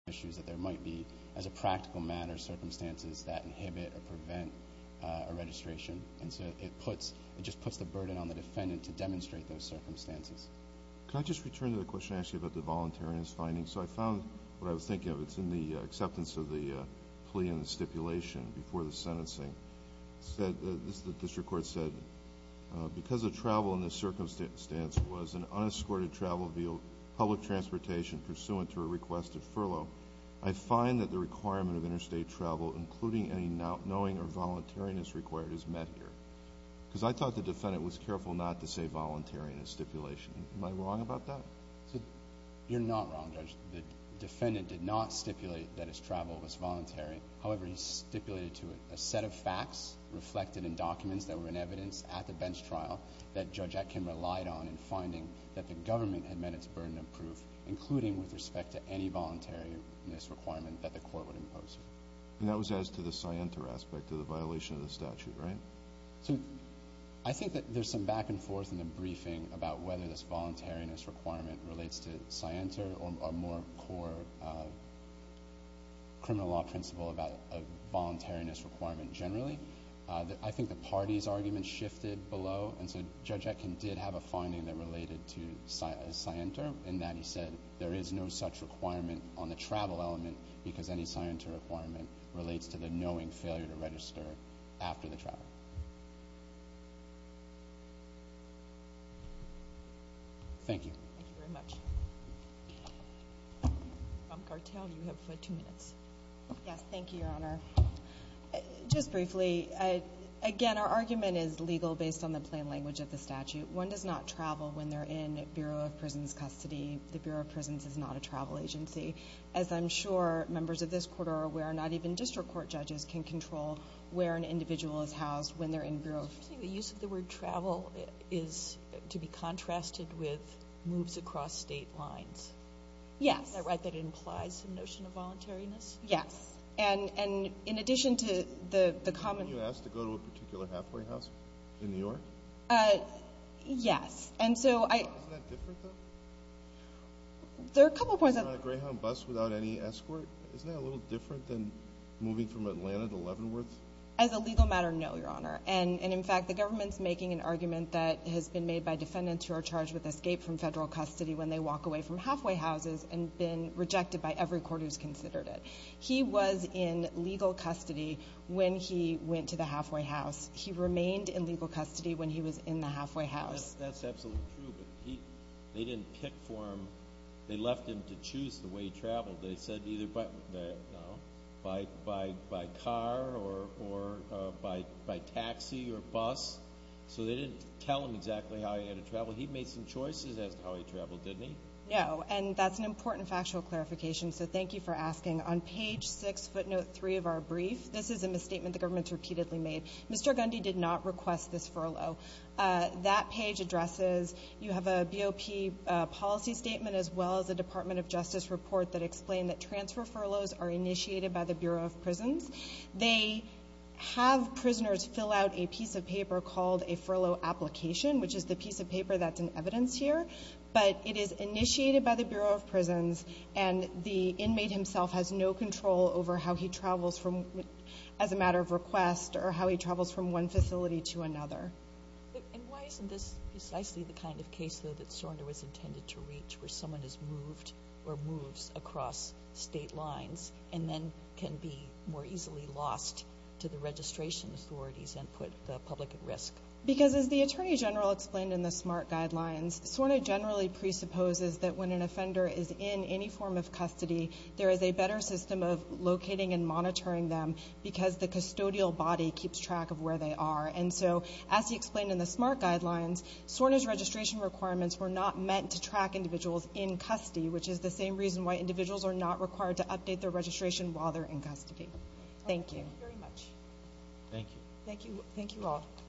issues that there might be, as a practical matter, circumstances that inhibit or prevent a registration. And so it puts, it just puts the burden on the defendant to demonstrate those circumstances. Can I just return to the question, actually, about the voluntariness finding? So I found what I was thinking of. It's in the acceptance of the plea and the stipulation before the sentencing. It said, the district court said, because the travel in this circumstance was an unescorted travel via public transportation pursuant to a request of furlough, I find that the requirement of interstate travel, including any not knowing or voluntariness required, is met here. Because I thought the defendant was careful not to say voluntary in his stipulation. Am I wrong about that? You're not wrong, Judge. The defendant did not stipulate that his travel was voluntary. However, he stipulated to it a set of facts reflected in documents that were in evidence at the bench trial that Judge Atkin relied on in finding that the government had met its burden of proof, including with respect to any voluntariness requirement that the court would impose. And that was as to the scienter aspect of the violation of the statute, right? So I think that there's some back and forth in the briefing about whether this voluntariness requirement relates to scienter or a more core criminal law principle about a voluntariness requirement generally. I think the party's argument shifted below, and so Judge Atkin did have a finding that related to scienter, in that he said there is no such requirement on the travel element because any scienter requirement relates to the knowing failure to register after the travel. Thank you. Thank you very much. Thank you, Your Honor. Just briefly, again, our argument is legal based on the plain language of the statute. One does not travel when they're in Bureau of Prisons custody. The Bureau of Prisons is not a travel agency. As I'm sure members of this court are aware, not even district court judges can control where an individual is housed when they're in Bureau of Prisons custody. I'm assuming the use of the word travel is to be contrasted with moves across state lines. Yes. Is that right, that it implies some notion of voluntariness? Yes. And in addition to the common... Weren't you asked to go to a particular halfway house in New York? Yes. And so I... Isn't that different, though? There are a couple of points... Going on a Greyhound bus without any escort, isn't that a little different than moving from Atlanta to Leavenworth? As a legal matter, no, Your Honor. And in fact, the government's making an argument that has been made by defendants who are charged with escape from federal custody when they walk away from halfway houses and been rejected by every court who's considered it. He was in legal custody when he went to the halfway house. He remained in legal custody when he was in the halfway house. That's absolutely true, but they didn't pick for him. They left him to choose the way he by taxi or bus, so they didn't tell him exactly how he had to travel. He made some choices as to how he traveled, didn't he? No, and that's an important factual clarification, so thank you for asking. On page 6, footnote 3 of our brief, this is a misstatement the government's repeatedly made. Mr. Gundy did not request this furlough. That page addresses... You have a BOP policy statement as well as a Department of Justice report that explained that transfer furloughs are initiated by the have prisoners fill out a piece of paper called a furlough application, which is the piece of paper that's in evidence here, but it is initiated by the Bureau of Prisons, and the inmate himself has no control over how he travels as a matter of request or how he travels from one facility to another. And why isn't this precisely the kind of case, though, that Sorender was intended to reach where someone is moved or moves across state lines and then can be more easily lost to the registration authorities and put the public at risk? Because as the Attorney General explained in the SMART guidelines, Sornder generally presupposes that when an offender is in any form of custody, there is a better system of locating and monitoring them because the custodial body keeps track of where they are, and so as he explained in the SMART guidelines, Sornder's registration requirements were not meant to track individuals in custody, which is the same reason why individuals are not required to update their registration while they're in custody. Thank you. Thank you very much. Thank you. Thank you all.